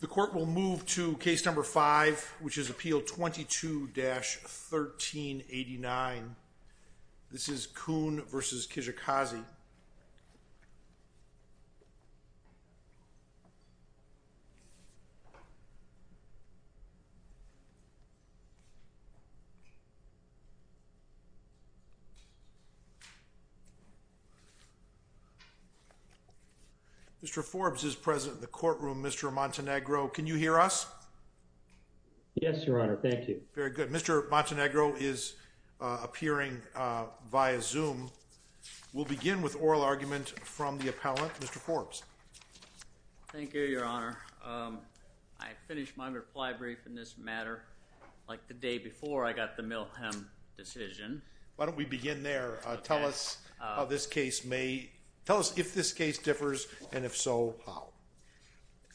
The court will move to case number 5 which is appeal 22-1389. This is Kuhn vs. Kijikazi. Mr. Forbes is present in the courtroom. Mr. Montenegro, can you hear us? Yes, Your Honor. Thank you. Very good. Mr. Montenegro is appearing via Zoom. We'll begin with oral argument from the appellant, Mr. Forbes. Thank you, Your Honor. I finished my reply brief in this matter like the day before I got the Milham decision. Why don't we begin there. Tell us how this case may... Tell us if this case differs and if so, how.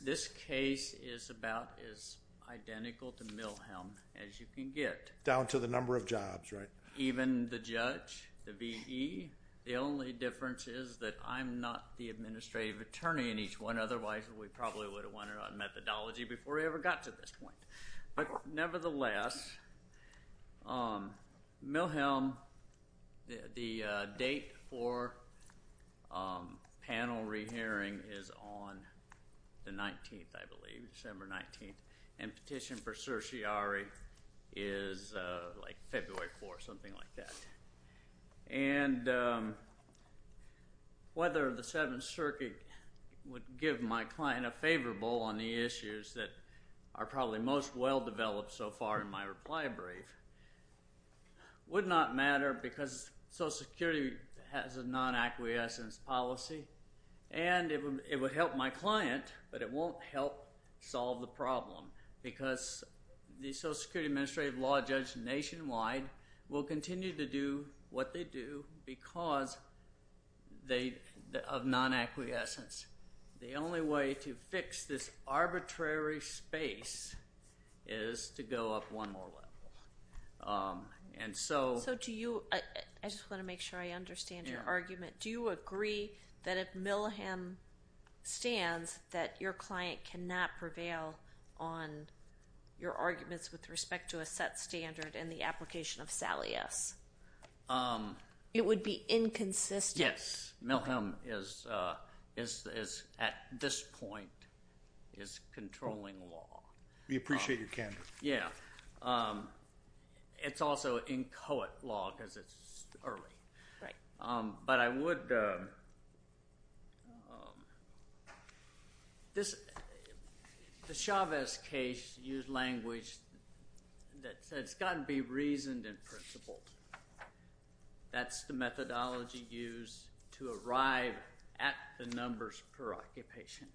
This case is about as identical to Milham as you can get. Down to the number of jobs, right? Even the judge, the V.E., the only difference is that I'm not the administrative attorney in each one. Otherwise, we probably would have won it on methodology before we ever got to this point. But nevertheless, Milham, the date for panel re-hearing is on the 19th, I believe, December 19th. And petition for certiorari is like February 4th, something like that. And whether the Seventh Circuit would give my client a favorable on the issues that are probably most well-developed so far in my reply brief would not matter because Social Security has a non-acquiescence policy, and it would help my client, but it won't help solve the problem because the Social Security administrative law judge nationwide will continue to do what they do because of non-acquiescence. The only way to fix this arbitrary space is to go up one more level. And so... So do you... I just want to make sure I understand your argument. Do you agree that if Milham stands, that your client cannot prevail on your arguments with respect to a set standard in the application of Salius? It would be inconsistent. Yes. Milham is, at this point, is controlling law. We appreciate your candor. Yeah. It's also inchoate law because it's early. Right. But I would... The Chavez case used language that says it's got to be reasoned and principled. That's the methodology used to arrive at the numbers per occupation.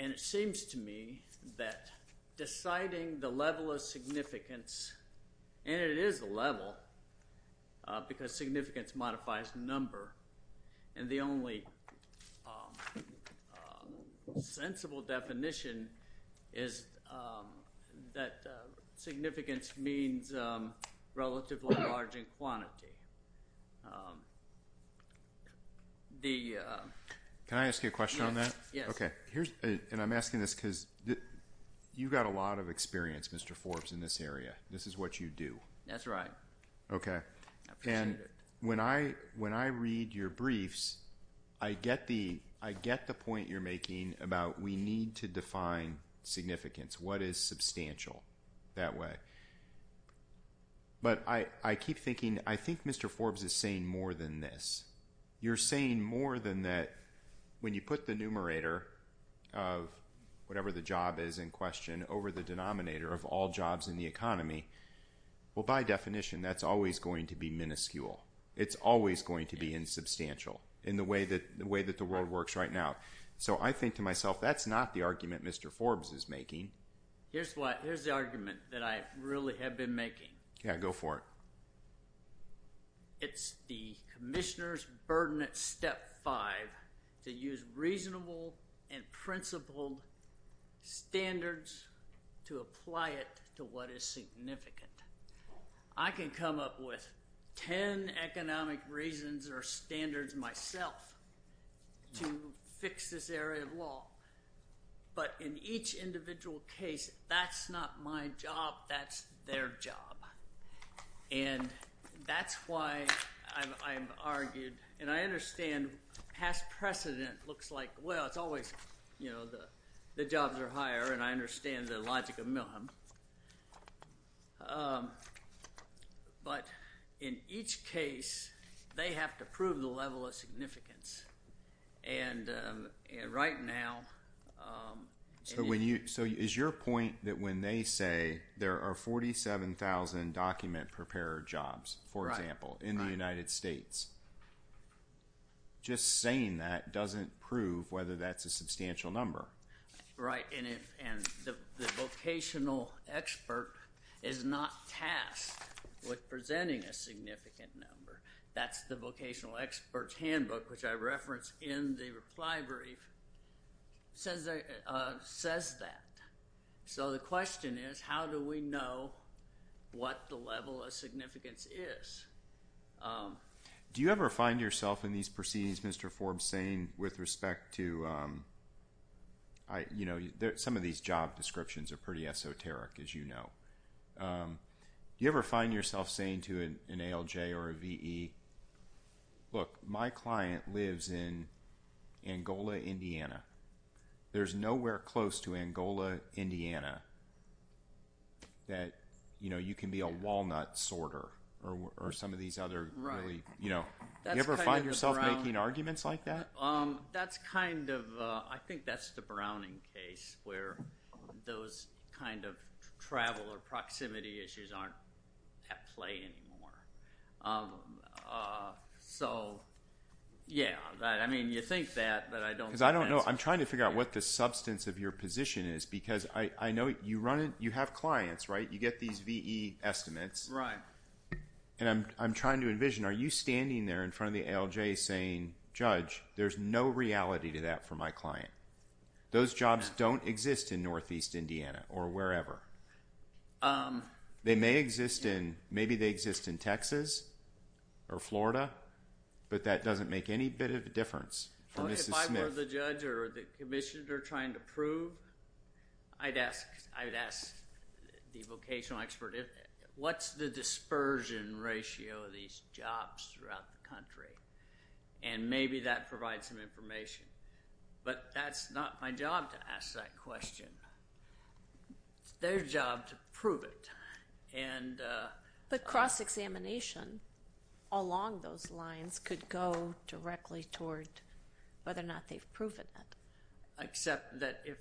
And it seems to me that deciding the level of significance, and it is a level because significance modifies number, and the only sensible definition is that significance means relatively large in quantity. The... Can I ask you a question on that? Yes. Okay. Here's... And I'm asking this because you've got a lot of experience, Mr. Forbes, in this area. This is what you do. That's right. Okay. I appreciate it. And when I read your briefs, I get the point you're making about we need to define significance. What is substantial that way? But I keep thinking, I think Mr. Forbes is saying more than this. You're saying more than that. When you put the numerator of whatever the job is in question over the denominator of all jobs in the economy, well, by definition, that's always going to be minuscule. It's always going to be insubstantial in the way that the world works right now. So I think to myself, that's not the argument Mr. Forbes is making. Here's what... That's the argument that I really have been making. Yeah. Go for it. It's the commissioner's burden at step five to use reasonable and principled standards to apply it to what is significant. I can come up with 10 economic reasons or standards myself to fix this area of law. But in each individual case, that's not my job, that's their job. And that's why I've argued, and I understand past precedent looks like, well, it's always, you know, the jobs are higher and I understand the logic of Milham. But in each case, they have to prove the level of significance. And right now... So is your point that when they say there are 47,000 document preparer jobs, for example, in the United States, just saying that doesn't prove whether that's a substantial number? Right. And the vocational expert is not tasked with presenting a significant number. That's the vocational expert's handbook, which I referenced in the reply brief, says that. So the question is, how do we know what the level of significance is? Do you ever find yourself in these proceedings, Mr. Forbes, saying with respect to... You know, some of these job descriptions are pretty esoteric, as you know. Do you ever find yourself saying to an ALJ or a VE, look, my client lives in Angola, Indiana. There's nowhere close to Angola, Indiana that, you know, you can be a walnut sorter or some of these other really... Right. You know, do you ever find yourself making arguments like that? That's kind of... I think that's the Browning case where those kind of travel or proximity issues aren't at play anymore. So, yeah, I mean, you think that, but I don't think that's... Because I don't know. I'm trying to figure out what the substance of your position is because I know you have clients, right? You get these VE estimates. Right. And I'm trying to envision, are you standing there in front of the ALJ saying, Judge, there's no reality to that for my client? Those jobs don't exist in Northeast Indiana or wherever. They may exist in... Maybe they exist in Texas or Florida, but that doesn't make any bit of a difference for Mrs. Smith. If I were the judge or the commissioner trying to prove, I'd ask the vocational expert, what's the dispersion ratio of these jobs throughout the country? And maybe that provides some information. But that's not my job to ask that question. It's their job to prove it. But cross-examination along those lines could go directly toward whether or not they've proven it.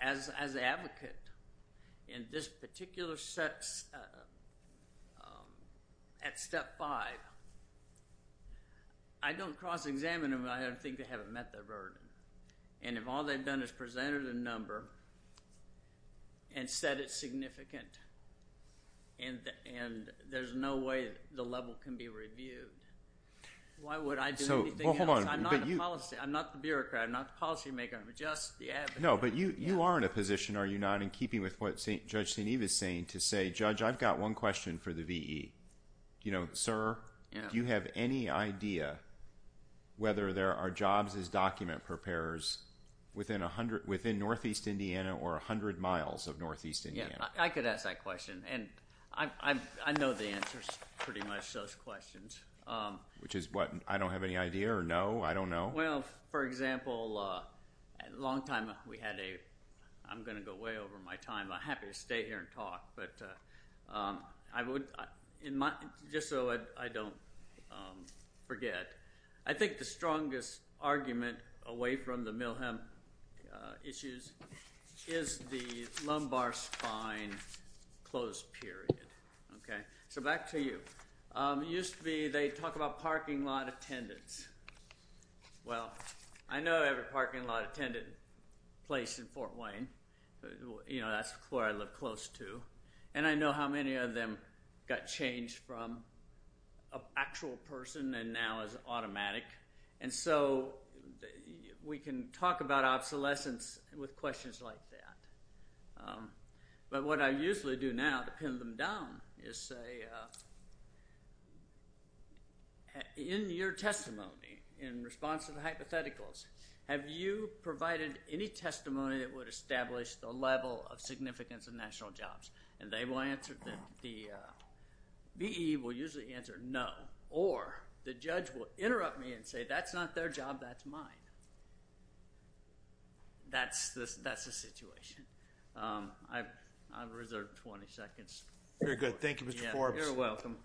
As an advocate, in this particular set at step five, I don't cross-examine them. I don't think they haven't met their burden. And if all they've done is presented a number and said it's significant and there's no way the level can be reviewed, why would I do anything else? I'm not the bureaucrat. I'm not the policymaker. No, but you are in a position, are you not, in keeping with what Judge St. Eve is saying, to say, Judge, I've got one question for the V.E. You know, sir, do you have any idea whether there are jobs as document preparers within Northeast Indiana or 100 miles of Northeast Indiana? Yeah, I could ask that question. And I know the answers to pretty much those questions. Which is what? I don't have any idea or no? I don't know? Well, for example, a long time we had a – I'm going to go way over my time. I'm happy to stay here and talk, but I would – just so I don't forget. I think the strongest argument away from the Milham issues is the lumbar spine close period. Okay? So back to you. It used to be they'd talk about parking lot attendants. Well, I know every parking lot attendant place in Fort Wayne. You know, that's where I live close to. And I know how many of them got changed from an actual person and now is automatic. And so we can talk about obsolescence with questions like that. But what I usually do now to pin them down is say in your testimony, in response to the hypotheticals, have you provided any testimony that would establish the level of significance of national jobs? And they will answer – the V.E. will usually answer no. Or the judge will interrupt me and say that's not their job, that's mine. That's the situation. I've reserved 20 seconds. Very good. Thank you, Mr. Forbes. You're welcome.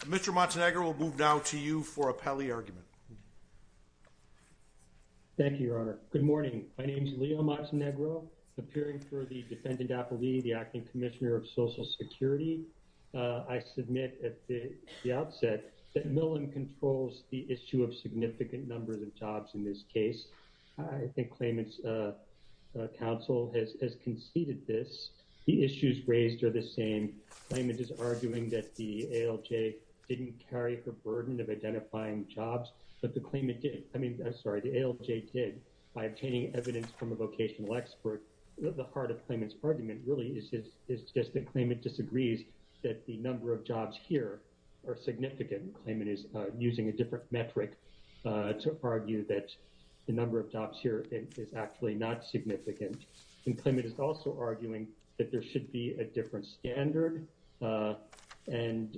Mr. Montenegro, we'll move now to you for a pally argument. Thank you, Your Honor. Good morning. My name is Leo Montenegro, appearing for the defendant appellee, the Acting Commissioner of Social Security. I submit at the outset that Milham controls the issue of significant numbers of jobs in this case. I think Claimant's counsel has conceded this. The issues raised are the same. Claimant is arguing that the ALJ didn't carry the burden of identifying jobs, but the claimant did – I mean, I'm sorry, the ALJ did. By obtaining evidence from a vocational expert, the heart of Claimant's argument really is just that Claimant disagrees that the number of jobs here are significant. Claimant is using a different metric to argue that the number of jobs here is actually not significant. And Claimant is also arguing that there should be a different standard and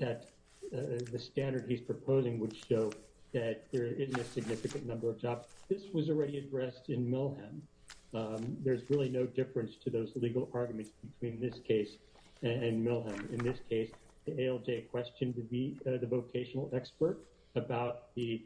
that the standard he's proposing would show that there isn't a significant number of jobs. This was already addressed in Milham. There's really no difference to those legal arguments between this case and Milham. In this case, the ALJ questioned the vocational expert about the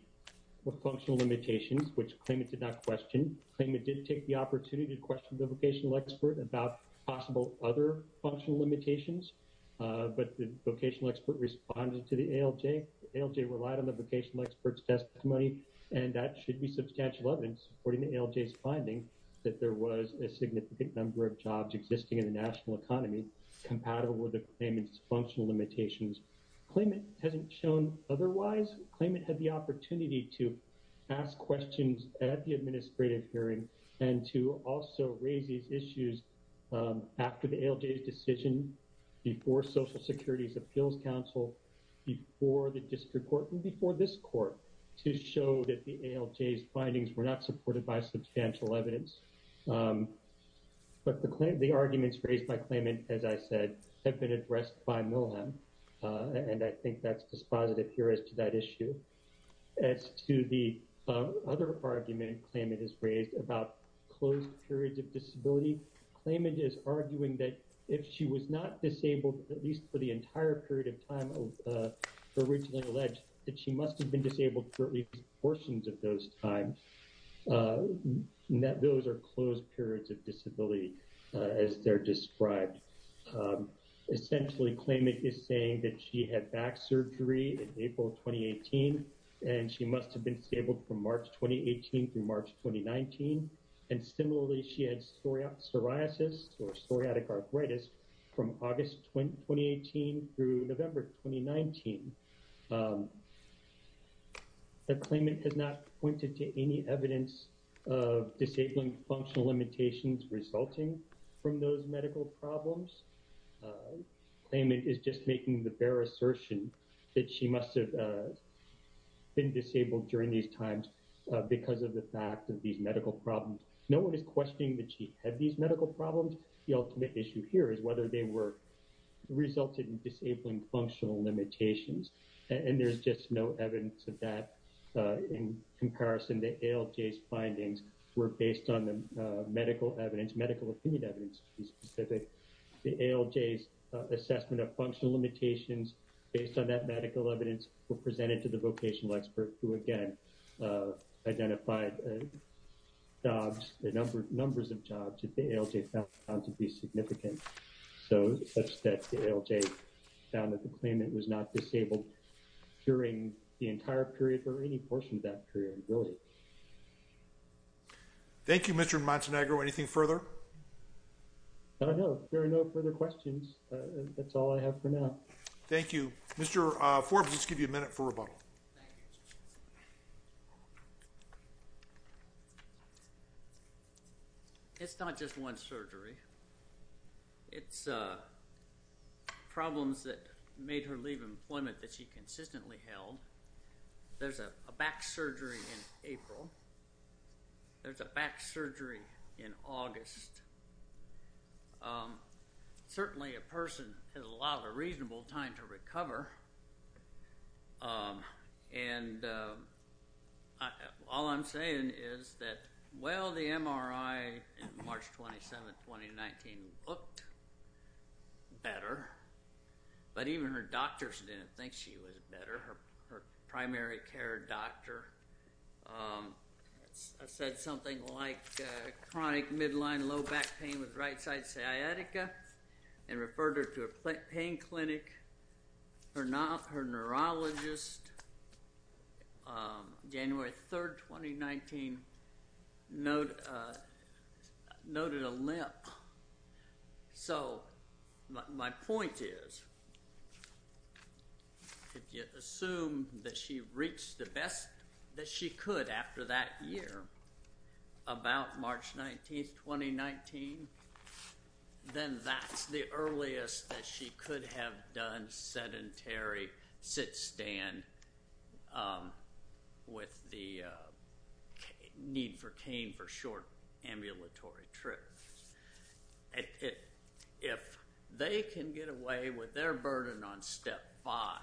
functional limitations, which Claimant did not question. Claimant did take the opportunity to question the vocational expert about possible other functional limitations, but the vocational expert responded to the ALJ. The ALJ relied on the vocational expert's testimony, and that should be substantial evidence, according to ALJ's finding, that there was a significant number of jobs existing in the national economy compatible with the Claimant's functional limitations. Claimant hasn't shown otherwise. Claimant had the opportunity to ask questions at the administrative hearing and to also raise these issues after the ALJ's decision, before Social Security's Appeals Council, before the district court, and before this court, to show that the ALJ's findings were not supported by substantial evidence. But the arguments raised by Claimant, as I said, have been addressed by Milham, and I think that's dispositive here as to that issue. As to the other argument Claimant has raised about closed periods of disability, Claimant is arguing that if she was not disabled, at least for the entire period of time originally alleged, that she must have been disabled for at least portions of those times, that those are closed periods of disability, as they're described. Essentially, Claimant is saying that she had back surgery in April 2018, and she must have been disabled from March 2018 through March 2019, and similarly, she had psoriasis, or psoriatic arthritis, from August 2018 through November 2019. But Claimant has not pointed to any evidence of disabling functional limitations resulting from those medical problems. Claimant is just making the bare assertion that she must have been disabled during these times because of the fact of these medical problems. No one is questioning that she had these medical problems. The ultimate issue here is whether they were resulted in disabling functional limitations, and there's just no evidence of that. In comparison, the ALJ's findings were based on the medical evidence, medical opinion evidence to be specific. The ALJ's assessment of functional limitations based on that medical evidence were presented to the vocational expert who, again, identified jobs, the numbers of jobs that the ALJ found to be significant, such that the ALJ found that the Claimant was not disabled during the entire period or any portion of that period, really. Thank you, Mr. Montenegro. Anything further? I don't know. There are no further questions. That's all I have for now. Thank you. Mr. Forbes, let's give you a minute for rebuttal. Thank you. It's not just one surgery. It's problems that made her leave employment that she consistently held. There's a back surgery in April. There's a back surgery in August. Certainly, a person has a lot of reasonable time to recover, and all I'm saying is that, well, the MRI in March 27, 2019, looked better, but even her doctors didn't think she was better. Her primary care doctor said something like, chronic midline low back pain with right side sciatica, and referred her to a pain clinic. Her neurologist, January 3, 2019, noted a limp. So my point is, if you assume that she reached the best that she could after that year, about March 19, 2019, then that's the earliest that she could have done sedentary sit-stand with the need for cane for short ambulatory trips. If they can get away with their burden on step five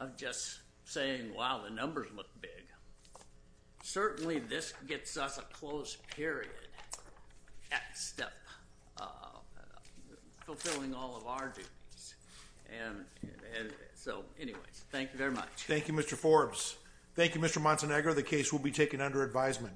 of just saying, wow, the numbers look big, certainly this gets us a close period at step, fulfilling all of our duties. And so, anyways, thank you very much. Thank you, Mr. Forbes. Thank you, Mr. Montenegro. The case will be taken under advisement.